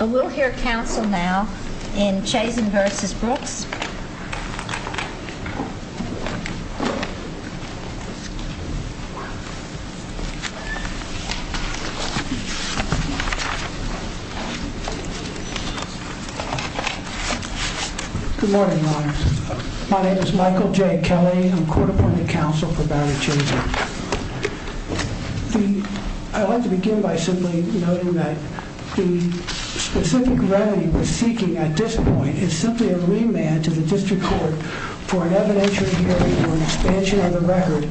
We will hear counsel now in Chazin v. Brooks. My name is Michael J. Kelly. I'm court-appointed counsel for Barry Chazin. I'd like to begin by simply noting that the specific remedy we're seeking at this point is simply a remand to the district court for an evidentiary hearing for an expansion of the record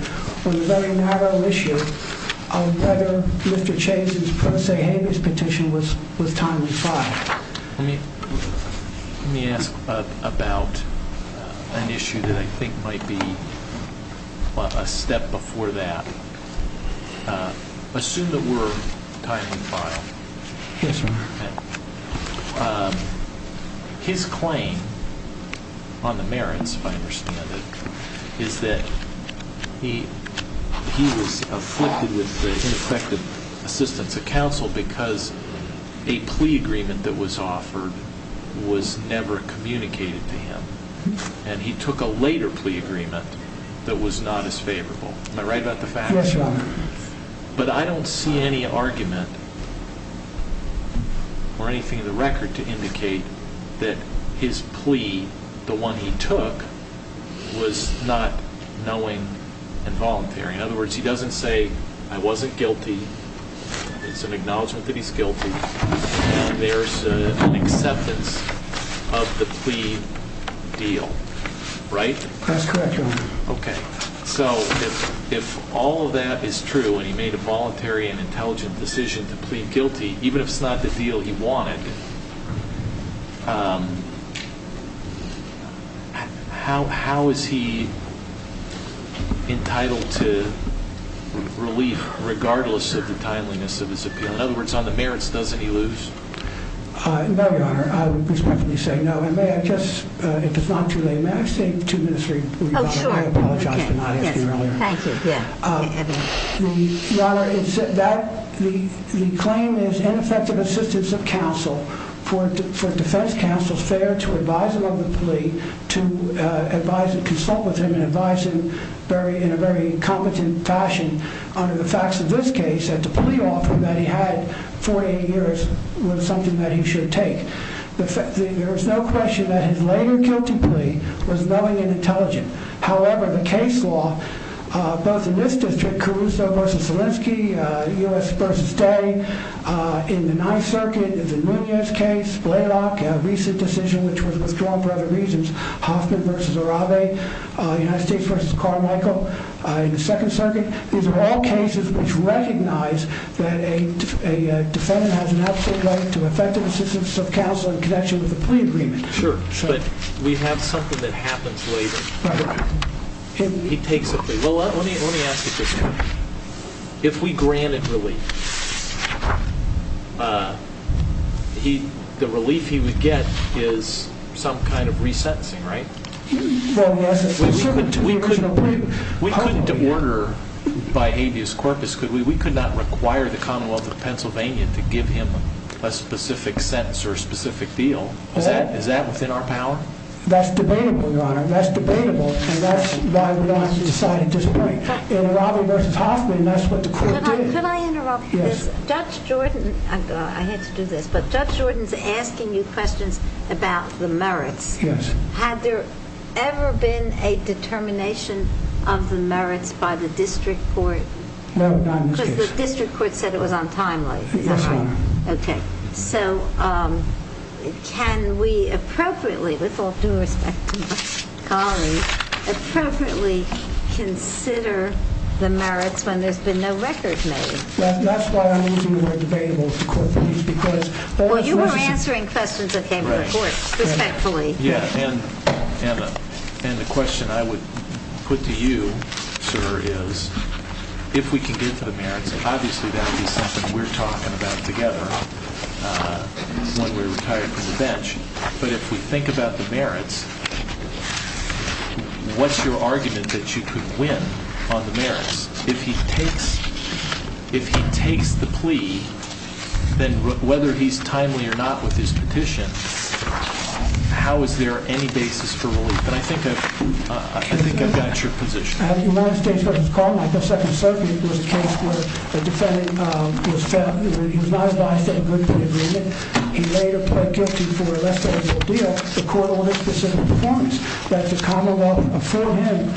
on a very narrow issue of whether Mr. Chazin's pro se habeas petition was timely filed. Let me ask about an issue that I think might be a step before that. Assume that we're timely filed. His claim on the merits, if I understand it, is that he was afflicted with the ineffective assistance of counsel because a plea agreement that was offered was never communicated to him. He took a later plea agreement that was not as favorable. Am I right about the fact? But I don't see any argument or anything in the record to indicate that his plea, the one he took, was not knowing and voluntary. In other words, he doesn't say, I wasn't guilty It's an acknowledgement that he's guilty. There's an acceptance of the plea deal, right? That's correct, your honor. Okay. So if all of that is true and he made a voluntary and intelligent decision to plead guilty, even if it's not the deal he wanted, how is he entitled to relief regardless of the timeliness of his appeal? In other words, on the merits, doesn't he lose? No, your honor. I respectfully say no. And may I just, it is not too late. May I say two minutes? I apologize for not asking earlier. Your honor, the claim is ineffective assistance of counsel for defense counsel's fair to advise him of the plea to advise and consult with him and advise him very, in a very competent fashion. Under the facts of this case at the plea offer that he had for eight years was something that he should take. There was no question that his later guilty plea was knowing and intelligent. However, the case law, both in this district, Caruso v. Selinsky, U.S. v. Day, in the Ninth Circuit, the Nunez case, Blaylock, recent decision, which was withdrawn for other reasons, Hoffman v. Arabe, United States v. Carmichael, in the Second Circuit. These are all cases which recognize that a defendant has an absolute right to effective assistance of counsel in connection with the plea agreement. Sure, but we have something that happens later. He takes a plea. Well, let me ask you this. If we is some kind of re-sentencing, right? We couldn't order by habeas corpus, could we? We could not require the Commonwealth of Pennsylvania to give him a specific sentence or a specific deal. Is that within our power? That's debatable, your honor. That's debatable. And that's why we decided to disappoint. In Arabe v. Hoffman, that's what the court did. Could I interrupt? Yes. Judge Jordan's asking you questions about the merits. Yes. Had there ever been a determination of the merits by the district court? No, not in this case. Because the district court said it was on time, right? Yes, your honor. Okay. So can we appropriately, with all due respect to my colleagues, appropriately consider the merits when there's been no record made? That's why I'm using the corpus. Well, you were answering questions that came to the court, respectfully. Yeah. And the question I would put to you, sir, is if we can get to the merits, obviously that would be something we're talking about together when we retire from the bench. But if we think about the merits, what's your argument that you could win on the merits? If he takes the plea, then whether he's timely or not with his petition, how is there any basis for relief? And I think I've got your position. At the United States Court of Appeal, like the Second Circuit, there was a case where a defendant was found, he was not advised to agree to the agreement. He later pled guilty for a less than legal deal. The court ordered specific performance that the commonwealth afford him,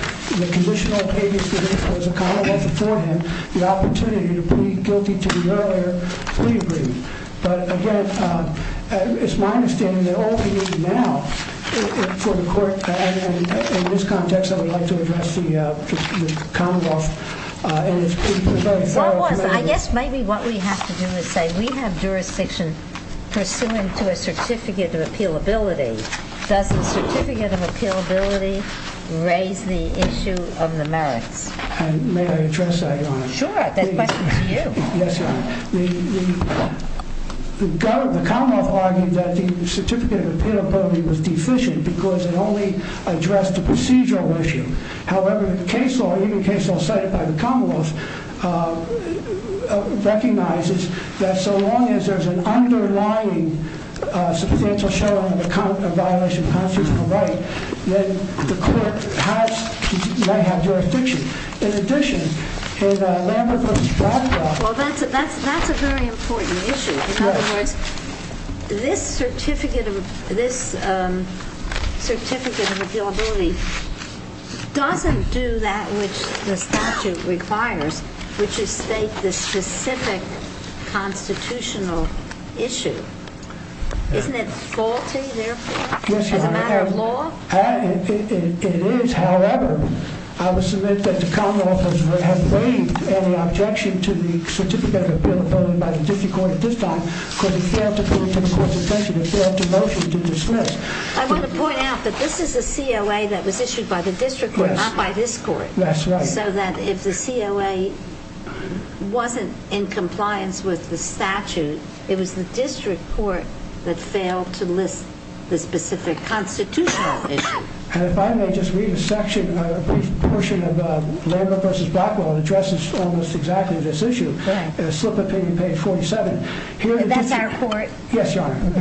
the condition of habeas corpus, the commonwealth afford him the opportunity to plead guilty to the earlier plea agreement. But again, it's my understanding that all we need now for the court, in this context, I would like to address the commonwealth. And I guess maybe what we have to do is say we have jurisdiction pursuant to a Certificate of Appealability. Does the Certificate of Appealability raise the issue of the merits? May I address that, Your Honor? Sure, that question's for you. Yes, Your Honor. The commonwealth argued that the Certificate of Appealability was deficient because it only addressed the procedural issue. However, the case law, even the case law cited by the commonwealth, recognizes that so long as there's an underlying substantial shadow on the violation of constitutional right, then the court might have jurisdiction. In addition, in Lambert v. Bradford... Well, that's a very important issue. In other words, this Certificate of Appealability doesn't do that which the statute requires, which is state the specific constitutional issue. Isn't it faulty, therefore, as a matter of law? It is. However, I would submit that the commonwealth has waived any objection to the motion to dismiss. I want to point out that this is a COA that was issued by the district court, not by this court. That's right. So that if the COA wasn't in compliance with the statute, it was the district court that failed to list the specific constitutional issue. And if I may just read a section, a brief portion of Lambert v. Blackwell, it addresses almost exactly this here. That's our court. Yes, your honor.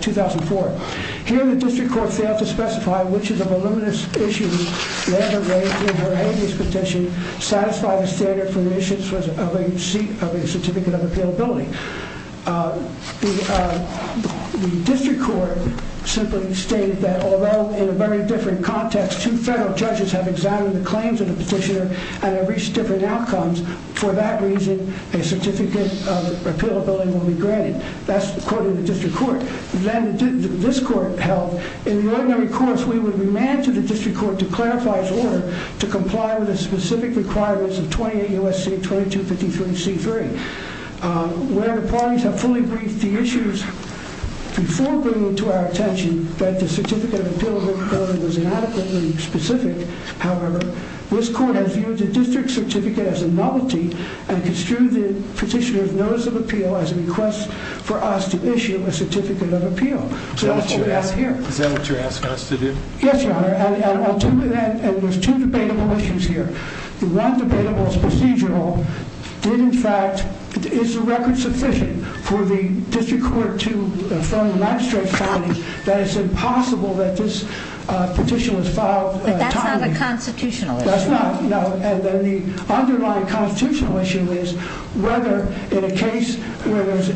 2004. Here, the district court failed to specify which of the voluminous issues Lambert raised in her habeas petition satisfy the standard for the issuance of a Certificate of Appealability. The district court simply stated that although in a very different context, two federal judges have examined the claims of the petitioner and have reached different outcomes. For that reason, a Certificate of Appealability will be granted. That's according to the district court. Then this court held, in the ordinary course, we would remand to the district court to clarify its order to comply with the specific requirements of 28 U.S.C. 2253 C3, where the parties have fully briefed the issues before bringing to our attention that the Certificate of Appealability was inadequately specific. However, this court has viewed the district certificate as a novelty and construed the petitioner's notice of appeal as a request for us to issue a Certificate of Appeal. So that's what we ask here. Is that what you're asking us to do? Yes, your honor. And there's two debatable issues here. The one debatable is procedural. Did, in fact, is the record sufficient for the district court to affirm the magistrate's finding that it's impossible that this petition was filed timely? But that's not a constitutional issue. That's not, no. And then the underlying constitutional issue is whether in a case where there's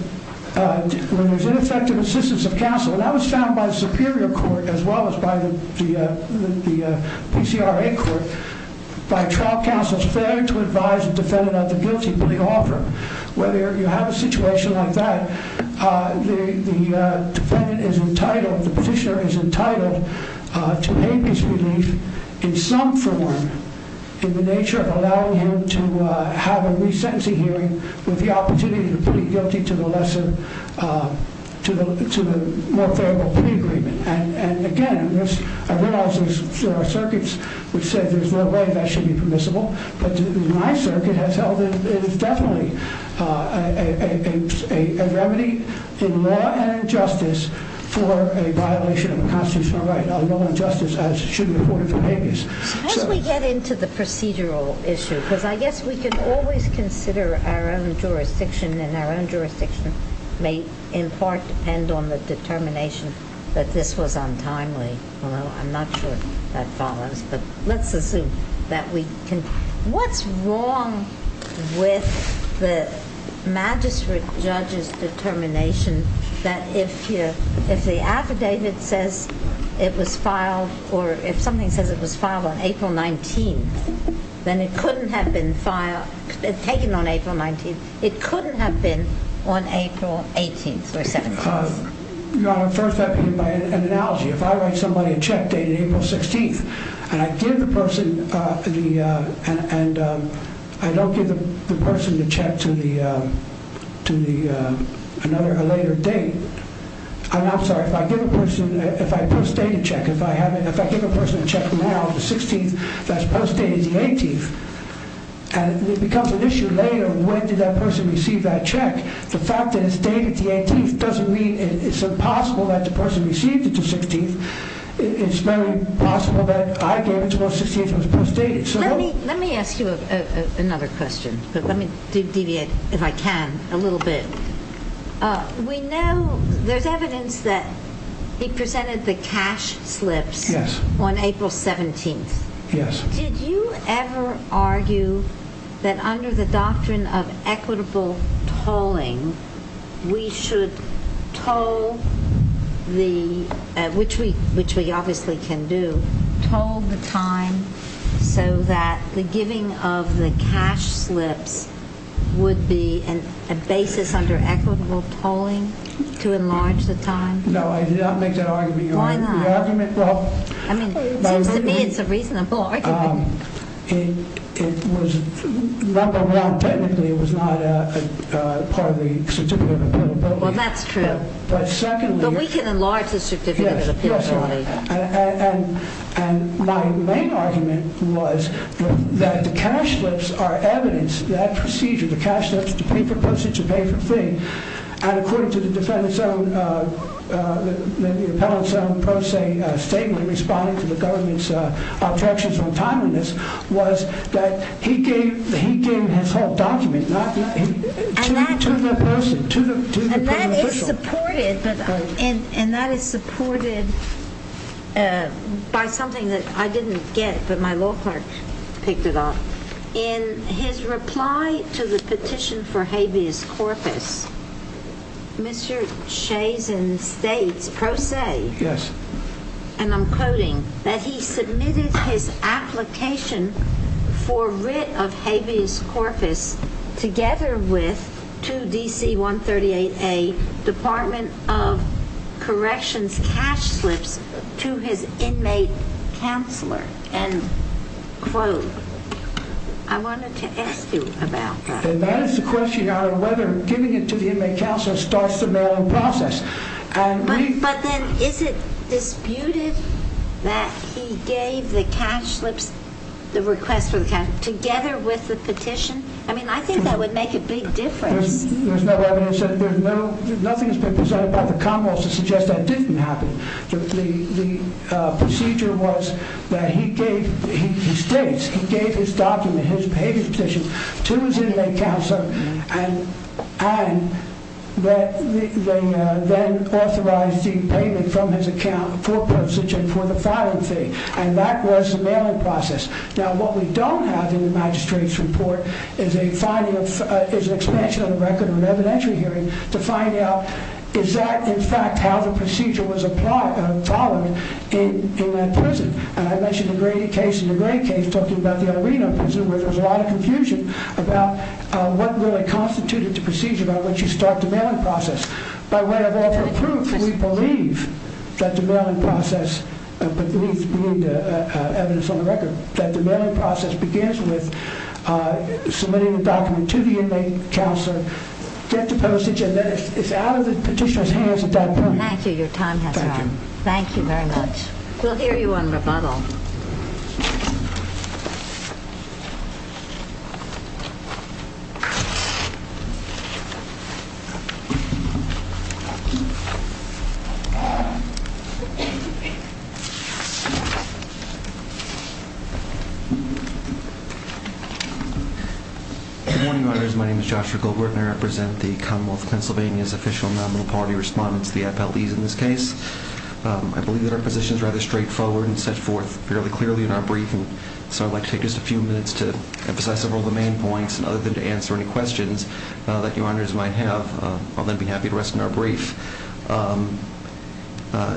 when there's ineffective assistance of counsel, and that was found by the superior court as well as by the PCRA court, by trial counsel's failure to advise the defendant of the guilty plea offer, whether you have a situation like that, the defendant is entitled, the petitioner is entitled to pay his relief in some form in the nature of allowing him to have a resentencing hearing with the opportunity to plead guilty to the lesser, to the more favorable plea agreement. And again, I realize there are circuits which say there's no way that should be permissible, but my circuit has held it is definitely a remedy in law and justice for a violation of constitutional right, no injustice as should be reported for habeas. So as we get into the procedural issue, because I guess we can always consider our own jurisdiction, and our own jurisdiction may in part depend on the determination that this was untimely, although I'm not sure that follows, but let's assume that we can. What's wrong with the file, or if something says it was filed on April 19th, then it couldn't have been taken on April 19th. It couldn't have been on April 18th or 17th. Your Honor, first I begin by an analogy. If I write somebody a check date on April 16th, and I give the person the, and I don't give the check to the, to the, another, a later date. I'm sorry, if I give a person, if I post-date a check, if I haven't, if I give a person a check now on the 16th that's post-dated the 18th, and it becomes an issue later, when did that person receive that check? The fact that it's dated the 18th doesn't mean it's impossible that the person received it the 16th. It's very possible that I gave it to them on the 16th and it was post-dated. Let me, let me ask you another question, but let me deviate, if I can, a little bit. We know there's evidence that he presented the cash slips on April 17th. Yes. Did you ever argue that under the doctrine of equitable tolling, we should toll the, which we, which we obviously can do, toll the time so that the giving of the cash slips would be an, a basis under equitable tolling to enlarge the time? No, I did not make that argument. Why not? The argument, well. I mean, it seems to me it's a reasonable argument. It, it was, number one, technically, it was not a part of the Certificate of Appeal. Well, that's true. But secondly. But we can enlarge the Certificate of Appeal. And my main argument was that the cash slips are evidence, that procedure, the cash slips to pay for postage, to pay for fee. And according to the defendant's own, the appellant's own pro se statement in responding to the government's objections on timing this, was that he gave, he gave his whole document, not, to the person, to the official. And that is supported, but, and, and that is supported by something that I didn't get, but my law clerk picked it up. In his reply to the petition for habeas corpus, Mr. Shayson states pro se. Yes. And I'm quoting that he submitted his application for writ of habeas corpus together with to DC 138A, Department of Corrections cash slips to his inmate counselor. And quote, I wanted to ask you about that. And that is the question out of whether giving it to the inmate counselor starts the mail-in process. But then is it disputed that he gave the cash slips, the request for the cash, together with the petition? I mean, I think that would make a big difference. There's no evidence that there's no, nothing has been presented by the Commonwealth to suggest that didn't happen. The, the procedure was that he gave, he states, he gave his document, his habeas petition to his inmate counselor and, and that they then authorized the payment from his account for postage and for the filing fee. And that was the mailing process. Now, what we don't have in the magistrate's report is a finding of, is an expansion of the record of an evidentiary hearing to find out is that in fact, how the procedure was applied, followed in that prison. And I mentioned the gray case in the gray case, talking about the arena prison, where there was a lot of confusion about what really constituted the procedure by which you start the mailing process. By way of other proof, we believe that the mailing process, but there needs to be evidence on the record that the mailing process begins with submitting the document to the inmate counselor, get the postage, and then it's out of the petitioner's hands at that point. Thank you. Your time has run. Thank you very much. We'll hear you on rebuttal. Good morning, your honors. My name is Joshua Goldberg and I represent the Commonwealth of Pennsylvania's official nominal party respondents, the FLEs in this case. I believe that our position is rather straightforward and set forth fairly clearly in our briefing. So I'd like to take just a few minutes to emphasize several of the main points and other than to answer any questions that your honors might have. I'll then be happy to rest in our brief.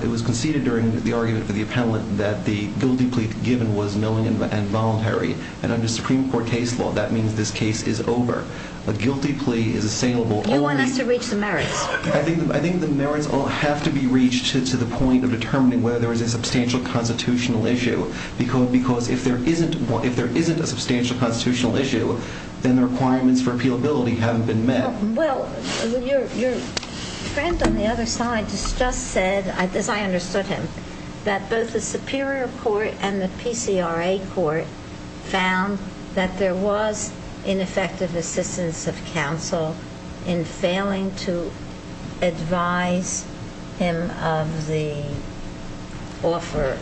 It was conceded during the argument for the appellant that the guilty plea given was knowing and voluntary, and under Supreme Court case law, that means this case is over. A guilty plea is assailable. You want us to reach the merits. I think the merits all have to be reached to the point of determining whether there is a substantial constitutional issue, because if there isn't a substantial constitutional issue, then the requirements for appealability haven't been met. Well, your friend on the other side just said, as I understood him, that both the Superior Court and the PCRA Court found that there was ineffective assistance of counsel in failing to advise him of the offer.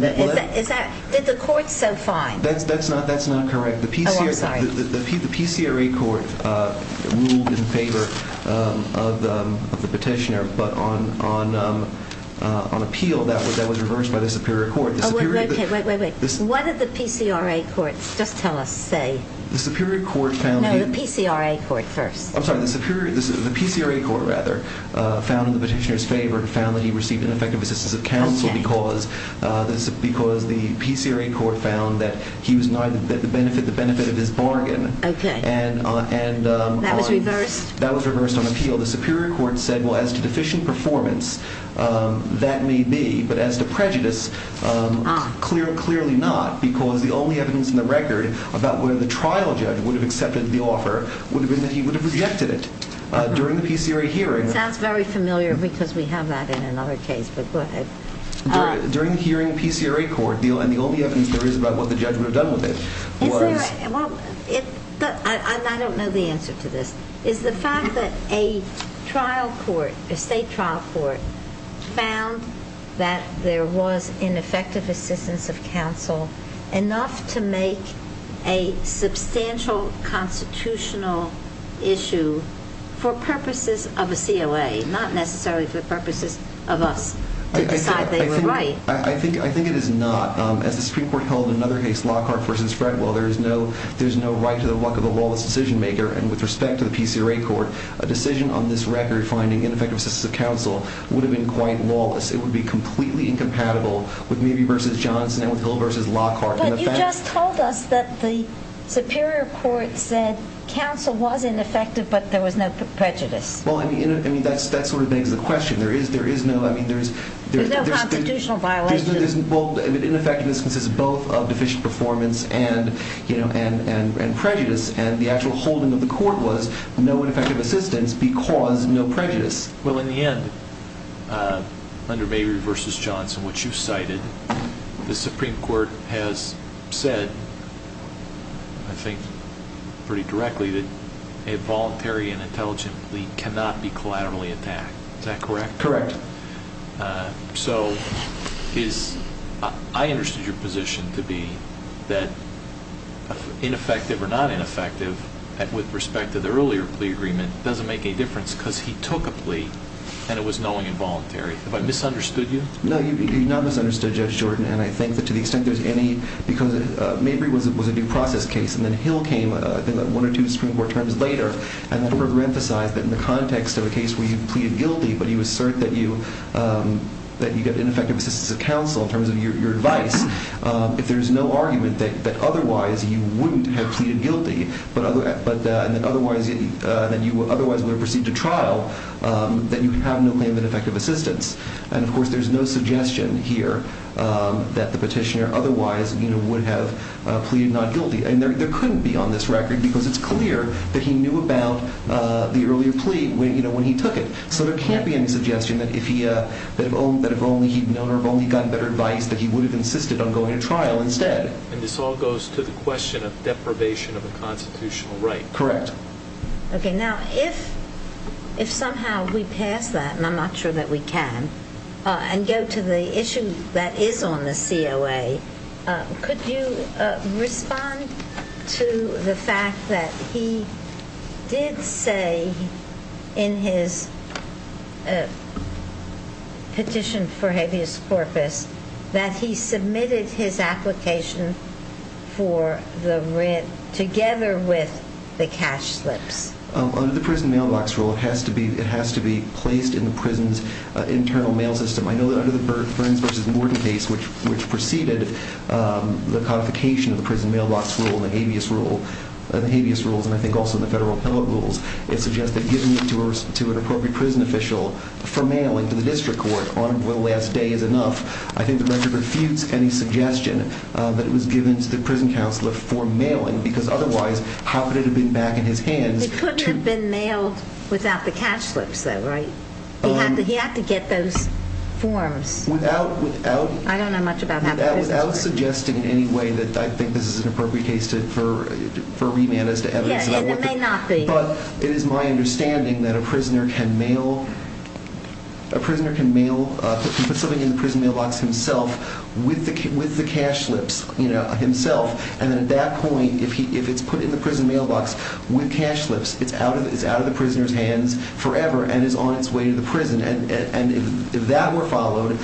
Did the court so find? That's not correct. The PCRA Court ruled in favor of the petitioner, but on appeal, that was reversed by the Superior Court. Oh, okay. Wait, wait, wait. What did the PCRA Court just tell us say? The Superior Court found that... No, the PCRA Court first. I'm sorry. The PCRA Court, rather, found in the petitioner's favor and found that he received ineffective assistance of counsel because the PCRA Court found that he was not at the benefit of his bargain. Okay. That was reversed? That was reversed on appeal. The Superior Court said, well, as to deficient performance, that may be, but as to prejudice, clearly not, because the only evidence in the record about whether the trial judge would have accepted the offer would have been that he would have rejected it during the PCRA hearing. Sounds very familiar, because we have that in another case, but go ahead. During the hearing, the PCRA Court, and the only evidence there is about what the judge would have done with it was... Well, I don't know the answer to this. Is the fact that a trial court, a state trial court, found that there was ineffective assistance of counsel enough to make a substantial constitutional issue for purposes of a COA, not necessarily for purposes of us to decide they were right? I think it is not. As the Supreme Court held in another case, Lockhart v. Fredwell, there's no right to the work of a lawless decision maker, and with respect to the PCRA Court, a decision on this record finding ineffective assistance of counsel would have been quite lawless. It would be completely incompatible with Mabee v. Johnson and with Hill v. Lockhart. But you just told us that the Superior Court said counsel was ineffective, but there was no prejudice. Well, I mean, that sort of begs the question. There is no... There's no constitutional violation. Ineffectiveness consists of both deficient performance and prejudice, and the actual holding of the court was no ineffective assistance because no prejudice. Well, in the end, under Mabee v. Johnson, which you cited, the Supreme Court has said, I think pretty directly, that a voluntary and intelligent plea cannot be collaterally attacked. Is that correct? Correct. So, I understood your position to be that ineffective or not ineffective, with respect to the earlier plea agreement, doesn't make any difference because he took a plea and it was knowing and voluntary. Have I misunderstood you? No, you've not misunderstood Judge Jordan, and I think that to the extent there's any... Because Mabee was a due process case, and then Hill came, I think, one or two Supreme Court terms later, and the court re-emphasized that in the context of a case where you pleaded guilty, but you assert that you get ineffective assistance of counsel in terms of your advice, if there's no argument that otherwise you wouldn't have pleaded guilty, and that otherwise you would have proceeded to trial, that you have no claim of ineffective assistance. And, of course, there's no suggestion here that the petitioner otherwise would have pleaded not guilty, and there couldn't be on this record because it's clear that he knew about the earlier plea when he took it. So, there can't be any suggestion that if he'd known or only gotten better advice, that he would have insisted on going to trial instead. And this all goes to the question of deprivation of a constitutional right. Correct. Okay. Now, if somehow we pass that, and I'm not sure that we can, and go to the issue that is on the COA, could you respond to the fact that he did say in his petition for habeas corpus that he submitted his application for the rent together with the cash slips? Under the prison mailbox rule, it has to be placed in the prison's internal mail system. I know that under the Burns v. Gordon case, which preceded the codification of the prison mailbox rule and the habeas rules, and I think also the federal appellate rules, it suggests that giving it to an appropriate prison official for mailing to the district court on the last day is enough. I think the record refutes any suggestion that it was given to the prison counselor for mailing because otherwise, how could it have been back in his hands? It couldn't have been mailed without the cash slips, though, right? He had to get those forms. I don't know much about habeas corpus. Without suggesting in any way that I think this is an appropriate case for remand as to evidence. Yeah, and it may not be. But it is my understanding that a prisoner can mail, put something in the prison mailbox himself with the cash slips himself, and then at that point, if it's put in the prison and if that were followed,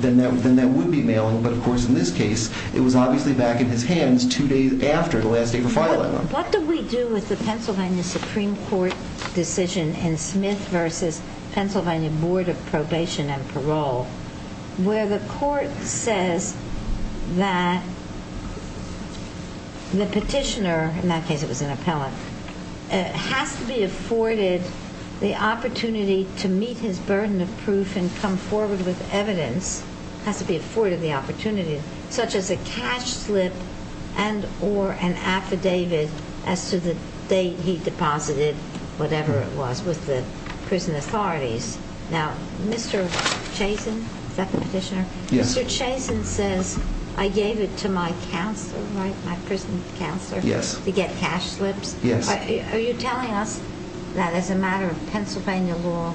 then that would be mailing. But of course, in this case, it was obviously back in his hands two days after the last day of the filing. What do we do with the Pennsylvania Supreme Court decision in Smith v. Pennsylvania Board of Probation and Parole where the court says that the petitioner, in that case it was an of proof and come forward with evidence, has to be afforded the opportunity, such as a cash slip and or an affidavit as to the date he deposited whatever it was with the prison authorities. Now, Mr. Chazen, is that the petitioner? Yes. Mr. Chazen says, I gave it to my counselor, right, my prison counselor. Yes. To get cash slips. Yes. Are you telling us that as a matter of Pennsylvania law,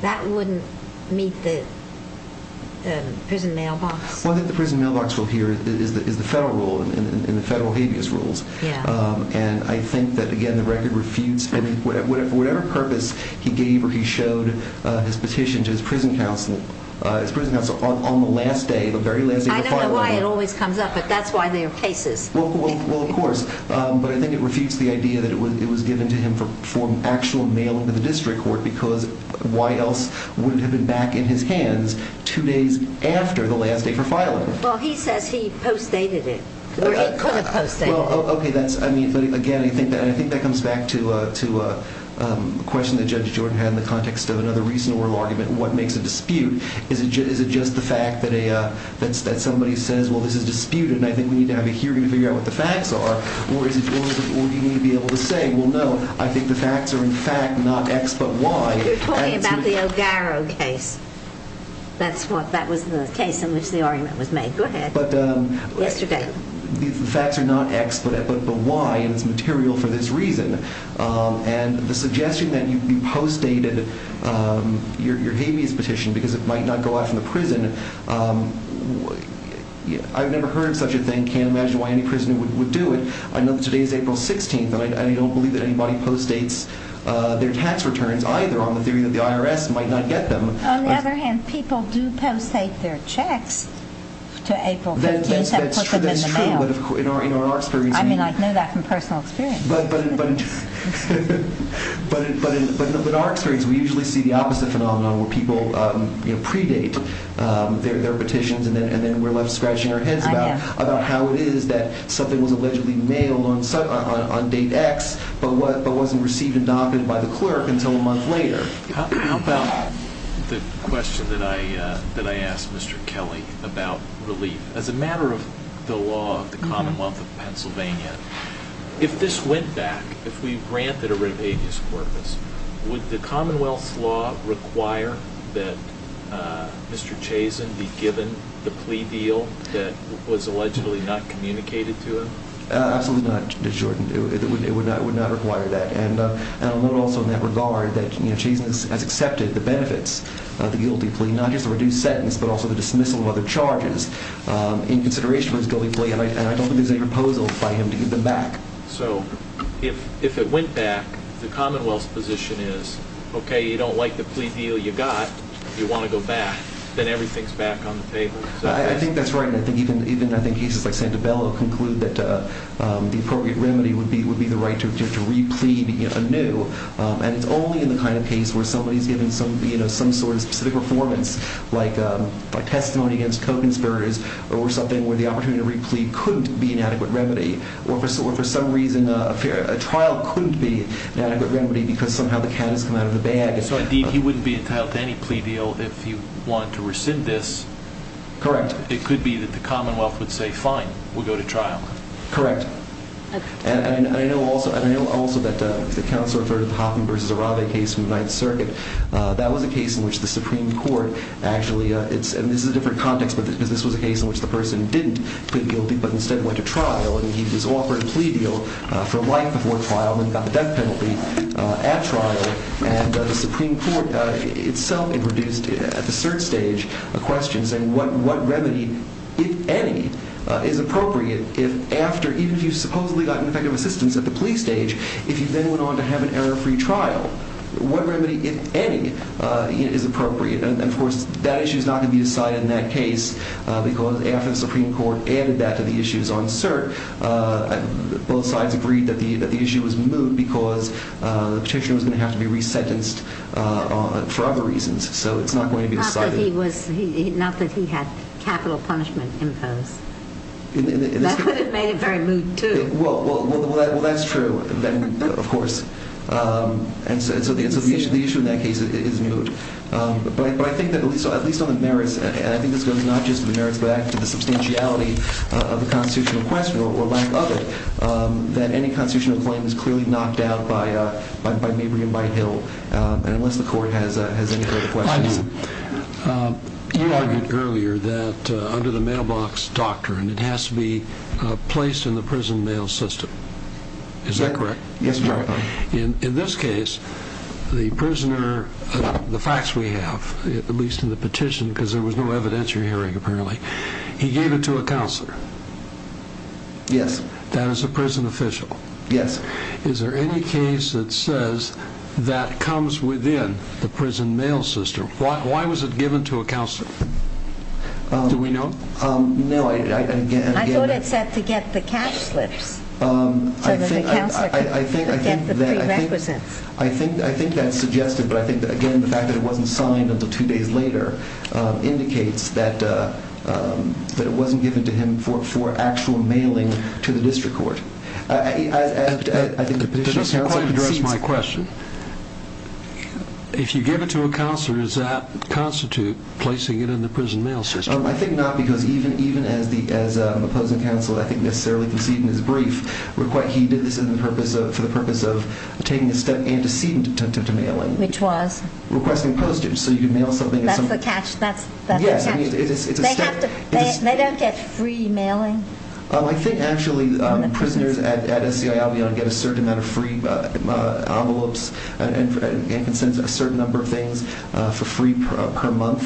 that wouldn't meet the prison mailbox? Well, I think the prison mailbox rule here is the federal rule and the federal habeas rules. And I think that, again, the record refutes whatever purpose he gave or he showed his petition to his prison counselor on the last day, the very last day of the filing. I don't know why it always comes up, but that's why there are cases. Well, of course. But I think it refutes the idea that it was given to him for actual mail into the district court, because why else would it have been back in his hands two days after the last day for filing? Well, he says he post dated it. Or he could have post dated it. Okay. That's, I mean, again, I think that comes back to a question that Judge Jordan had in the context of another recent oral argument. What makes a dispute? Is it just the fact that somebody says, well, this is disputed and I think we need to have a hearing to figure out what the facts are? Or is it, or do you need to be able to say, well, no, I think the facts are in fact not X but Y. You're talking about the O'Garrow case. That's what, that was the case in which the argument was made. Go ahead. But the facts are not X but Y and it's material for this reason. And the suggestion that you post dated your habeas petition because it might not go out in the prison, I've never heard such a thing. I can't imagine why any prisoner would do it. I know that today is April 16th and I don't believe that anybody post dates their tax returns either on the theory that the IRS might not get them. On the other hand, people do post date their checks to April 15th and put them in the mail. That's true, that's true. But in our experience. I mean, I know that from personal experience. But in our experience, we usually see the opposite phenomenon where people predate. Their petitions and then we're left scratching our heads about how it is that something was allegedly mailed on date X but wasn't received and documented by the clerk until a month later. How about the question that I asked Mr. Kelly about relief? As a matter of the law of the Commonwealth of Pennsylvania, if this went back, if we given the plea deal that was allegedly not communicated to him? Absolutely not, it would not require that. And I'll note also in that regard that Chazen has accepted the benefits of the guilty plea, not just the reduced sentence, but also the dismissal of other charges in consideration of his guilty plea. And I don't think there's any proposal by him to give them back. So if it went back, the Commonwealth's position is, okay, you don't like the plea deal you got, you want to go back, then everything's back on the table. I think that's right. And I think even cases like Santabella conclude that the appropriate remedy would be the right to re-plead anew. And it's only in the kind of case where somebody's given some sort of specific performance, like testimony against co-conspirators or something where the opportunity to re-plead couldn't be an adequate remedy or for some reason a trial couldn't be an adequate remedy because somehow the cat has come out of the bag. So indeed, he wouldn't be entitled to any plea deal if he wanted to rescind this. Correct. It could be that the Commonwealth would say, fine, we'll go to trial. Correct. And I know also that the counsel for the Hoffman versus Arabe case in the Ninth Circuit, that was a case in which the Supreme Court actually, and this is a different context, but this was a case in which the person didn't plead guilty but instead went to trial. And he was offered a plea deal for life before trial and got the death penalty at trial. And the Supreme Court itself introduced at the cert stage a question saying what remedy, if any, is appropriate if after, even if you've supposedly gotten effective assistance at the plea stage, if you then went on to have an error-free trial, what remedy, if any, is appropriate? And of course, that issue is not going to be decided in that case because after the Supreme Court added that to the issues on cert, both sides agreed that the issue was going to be re-sentenced for other reasons. So it's not going to be decided. Not that he had capital punishment imposed. That would have made it very moot, too. Well, that's true, of course. And so the issue in that case is moot. But I think that at least on the merits, and I think this goes not just to the merits, but to the substantiality of the constitutional question or lack of it, that any constitutional claim is clearly knocked out by Mabry and Byhill, and unless the court has any further questions. You argued earlier that under the mailbox doctrine, it has to be placed in the prison mail system. Is that correct? Yes, Your Honor. In this case, the prisoner, the facts we have, at least in the petition, because there was no evidence you're hearing, apparently, he gave it to a counselor. Yes. That is a prison official. Yes. Is there any case that says that comes within the prison mail system? Why was it given to a counselor? Do we know? No. I thought it said to get the cash slips so that the counselor could get the prerequisites. I think that's suggested, but I think that, again, the fact that it wasn't signed until two days later indicates that it wasn't given to him for actual mailing to the district court. I think the petitioner's counsel concedes- To just address my question, if you give it to a counselor, does that constitute placing it in the prison mail system? I think not, because even as opposing counsel, I think, necessarily conceded in his brief, he did this for the purpose of taking a step into detentive to mailing. Which was? Requesting postage so you could mail something- That's the catch. They don't get free mailing? I think, actually, prisoners at SCI-Albion get a certain amount of free envelopes and can send a certain number of things for free per month.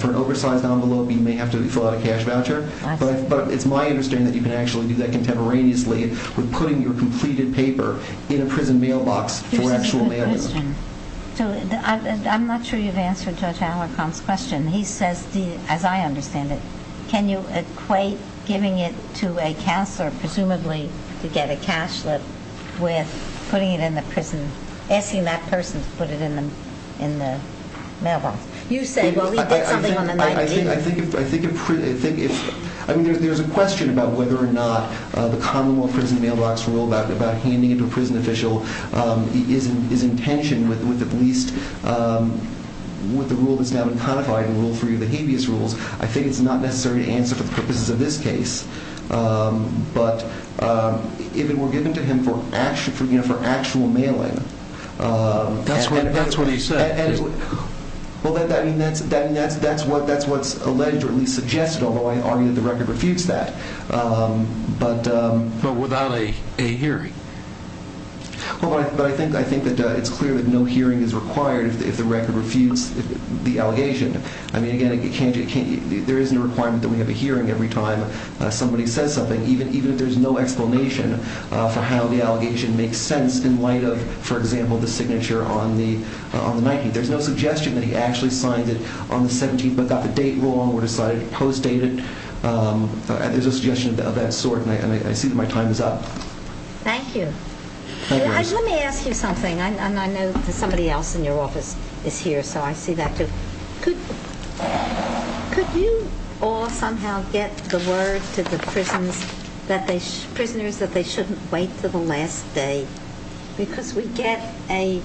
For an oversized envelope, you may have to fill out a cash voucher, but it's my understanding that you can actually do that contemporaneously with putting your completed paper in a prison mailbox for actual mailing. This is a good question. I'm not sure you've answered Judge Alarcon's question. He says, as I understand it, can you equate giving it to a counselor, presumably to get a cash slip, with putting it in the prison, asking that person to put it in the mailbox? You say, well, he did something on the 19th- I think if... I mean, there's a question about whether or not the commonwealth prison mailbox rule about handing it to a prison official is in tension with at least with the rule that's now been codified in Rule 3 of the habeas rules. I think it's not necessary to answer for the purposes of this case. But if it were given to him for actual mailing- That's what he said. Well, I mean, that's what's alleged or at least suggested, although I argue that the record refutes that. But- But without a hearing? Well, but I think that it's clear that no hearing is required if the record refutes the allegation. I mean, again, there isn't a requirement that we have a hearing every time somebody says something, even if there's no explanation for how the allegation makes sense in light of, for example, the signature on the 19th. There's no suggestion that he actually signed it on the 17th, but got the date wrong or decided to post-date it. There's a suggestion of that sort, and I see that my time is up. Thank you. Let me ask you something, and I know that somebody else in your office is here, so I see that, too. Could you all somehow get the word to the prisoners that they shouldn't wait till the last day? Because we get a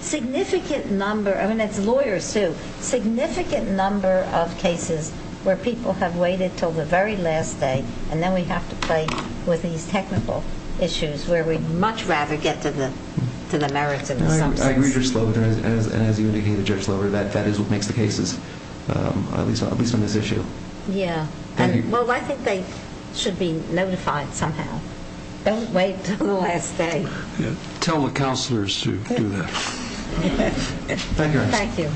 significant number- I mean, it's lawyers, too- significant number of cases where people have waited till the very last day, and then we have to play with these technical issues where we'd much rather get to the merits in some sense. I agree, Judge Slover, and as you indicated, Judge Slover, that is what makes the cases, at least on this issue. Yeah. Well, I think they should be notified somehow. Don't wait till the last day. Tell the counselors to do that. Thank you, Your Honor. Thank you.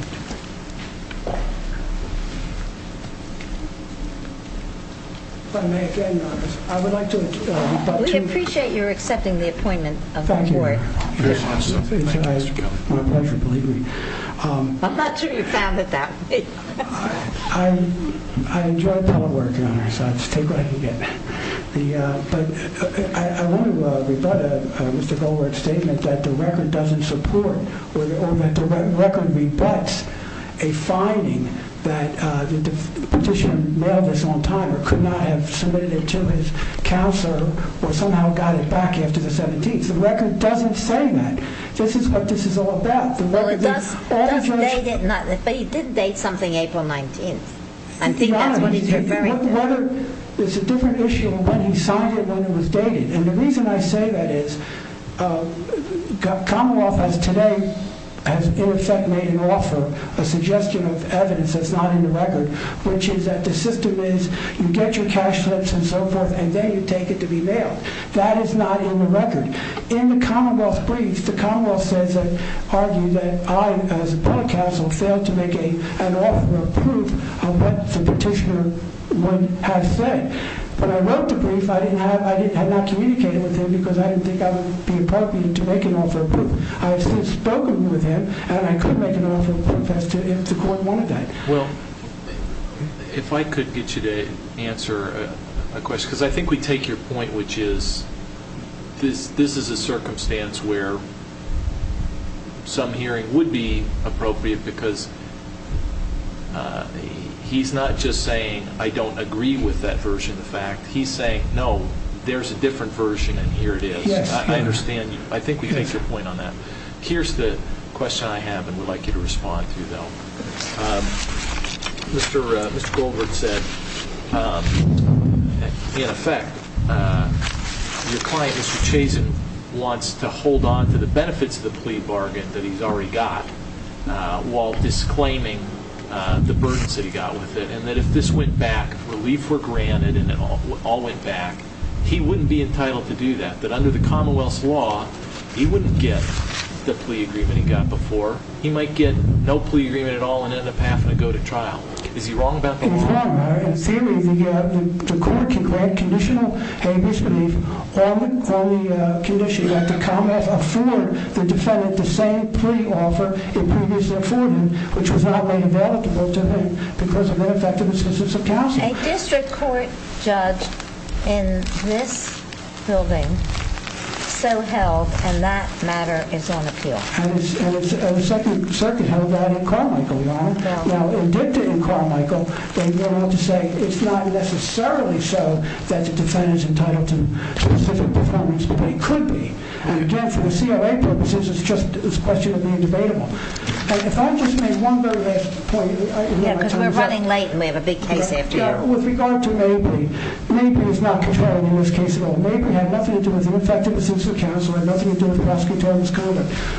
If I may again, Your Honor, I would like to- We appreciate your accepting the appointment of the court. Thank you, Your Honor. It's my pleasure, believe me. I'm not sure you found it that way. I enjoy public work, Your Honor, so I'll just take what I can get. But I want to rebut Mr. Goldberg's statement that the record doesn't support or that the record rebuts a finding that the petitioner mailed this on time or could not have submitted it to his counselor or somehow got it back after the 17th. The record doesn't say that. This is what this is all about. Well, it does date it, but it did date something April 19th. I think that's what he's referring to. Your Honor, it's a different issue of when he signed it and when it was dated. And the reason I say that is Commonwealth has today, in effect, made an offer, a suggestion of evidence that's not in the record, which is that the system is you get your cash slips and so forth, and then you take it to be mailed. That is not in the record. In the Commonwealth brief, the Commonwealth says that, argued that I, as a public counsel, failed to make an offer of proof of what the petitioner has said. When I wrote the brief, I had not communicated with him because I didn't think I would be appropriate to make an offer of proof. I have since spoken with him, and I could make an offer of proof as to if the court wanted that. Well, if I could get you to answer a question, because I think we take your point, which is this is a circumstance where some hearing would be appropriate because he's not just saying I don't agree with that version of the fact. He's saying, no, there's a different version, and here it is. I understand you. I think we take your point on that. Here's the question I have and would like you to respond to, though. Mr. Goldberg said, in effect, your client, Mr. Chazen, wants to hold on to the benefits of the plea bargain that he's already got while disclaiming the burdens that he got with it, and that if this went back, relief were granted, and it all went back, he wouldn't be entitled to do that. That under the Commonwealth's law, he wouldn't get the plea agreement he got before. He might get no plea agreement at all and end up having to go to trial. Is he wrong about that? He's wrong. In theory, the court can grant conditional habeas belief on the condition that the Commonwealth afford the defendant the same plea offer it previously afforded, which was not made available to him because of ineffective assistance of counsel. A district court judge in this building so held, and that matter is on appeal. And the second circuit held that in Carmichael, Your Honor. Now, indicted in Carmichael, they went on to say it's not necessarily so that the defendant is entitled to specific performance, but he could be. And again, for the CRA purposes, it's just a question of being debatable. If I just made one very basic point. Yeah, because we're running late, and we have a big case after you. With regard to Mabry, Mabry is not controlling in this case at all. Mabry had nothing to do with ineffective assistance of counsel, had nothing to do with the prosecution.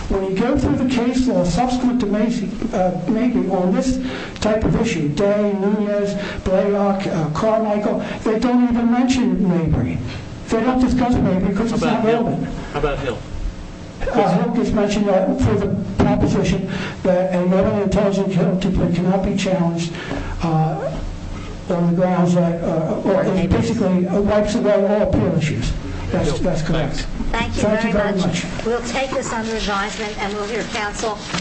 When you go through the case law, subsequent to Mabry on this type of issue, Day, Nunez, Blaylock, Carmichael, they don't even mention Mabry. They don't discuss Mabry because it's not relevant. How about Hill? Hill just mentioned that for the proposition that a non-intelligent candidate cannot be challenged on the grounds that, or basically wipes away all appeal issues. That's correct. Thank you very much. We'll take this under advisement, and we'll hear counsel.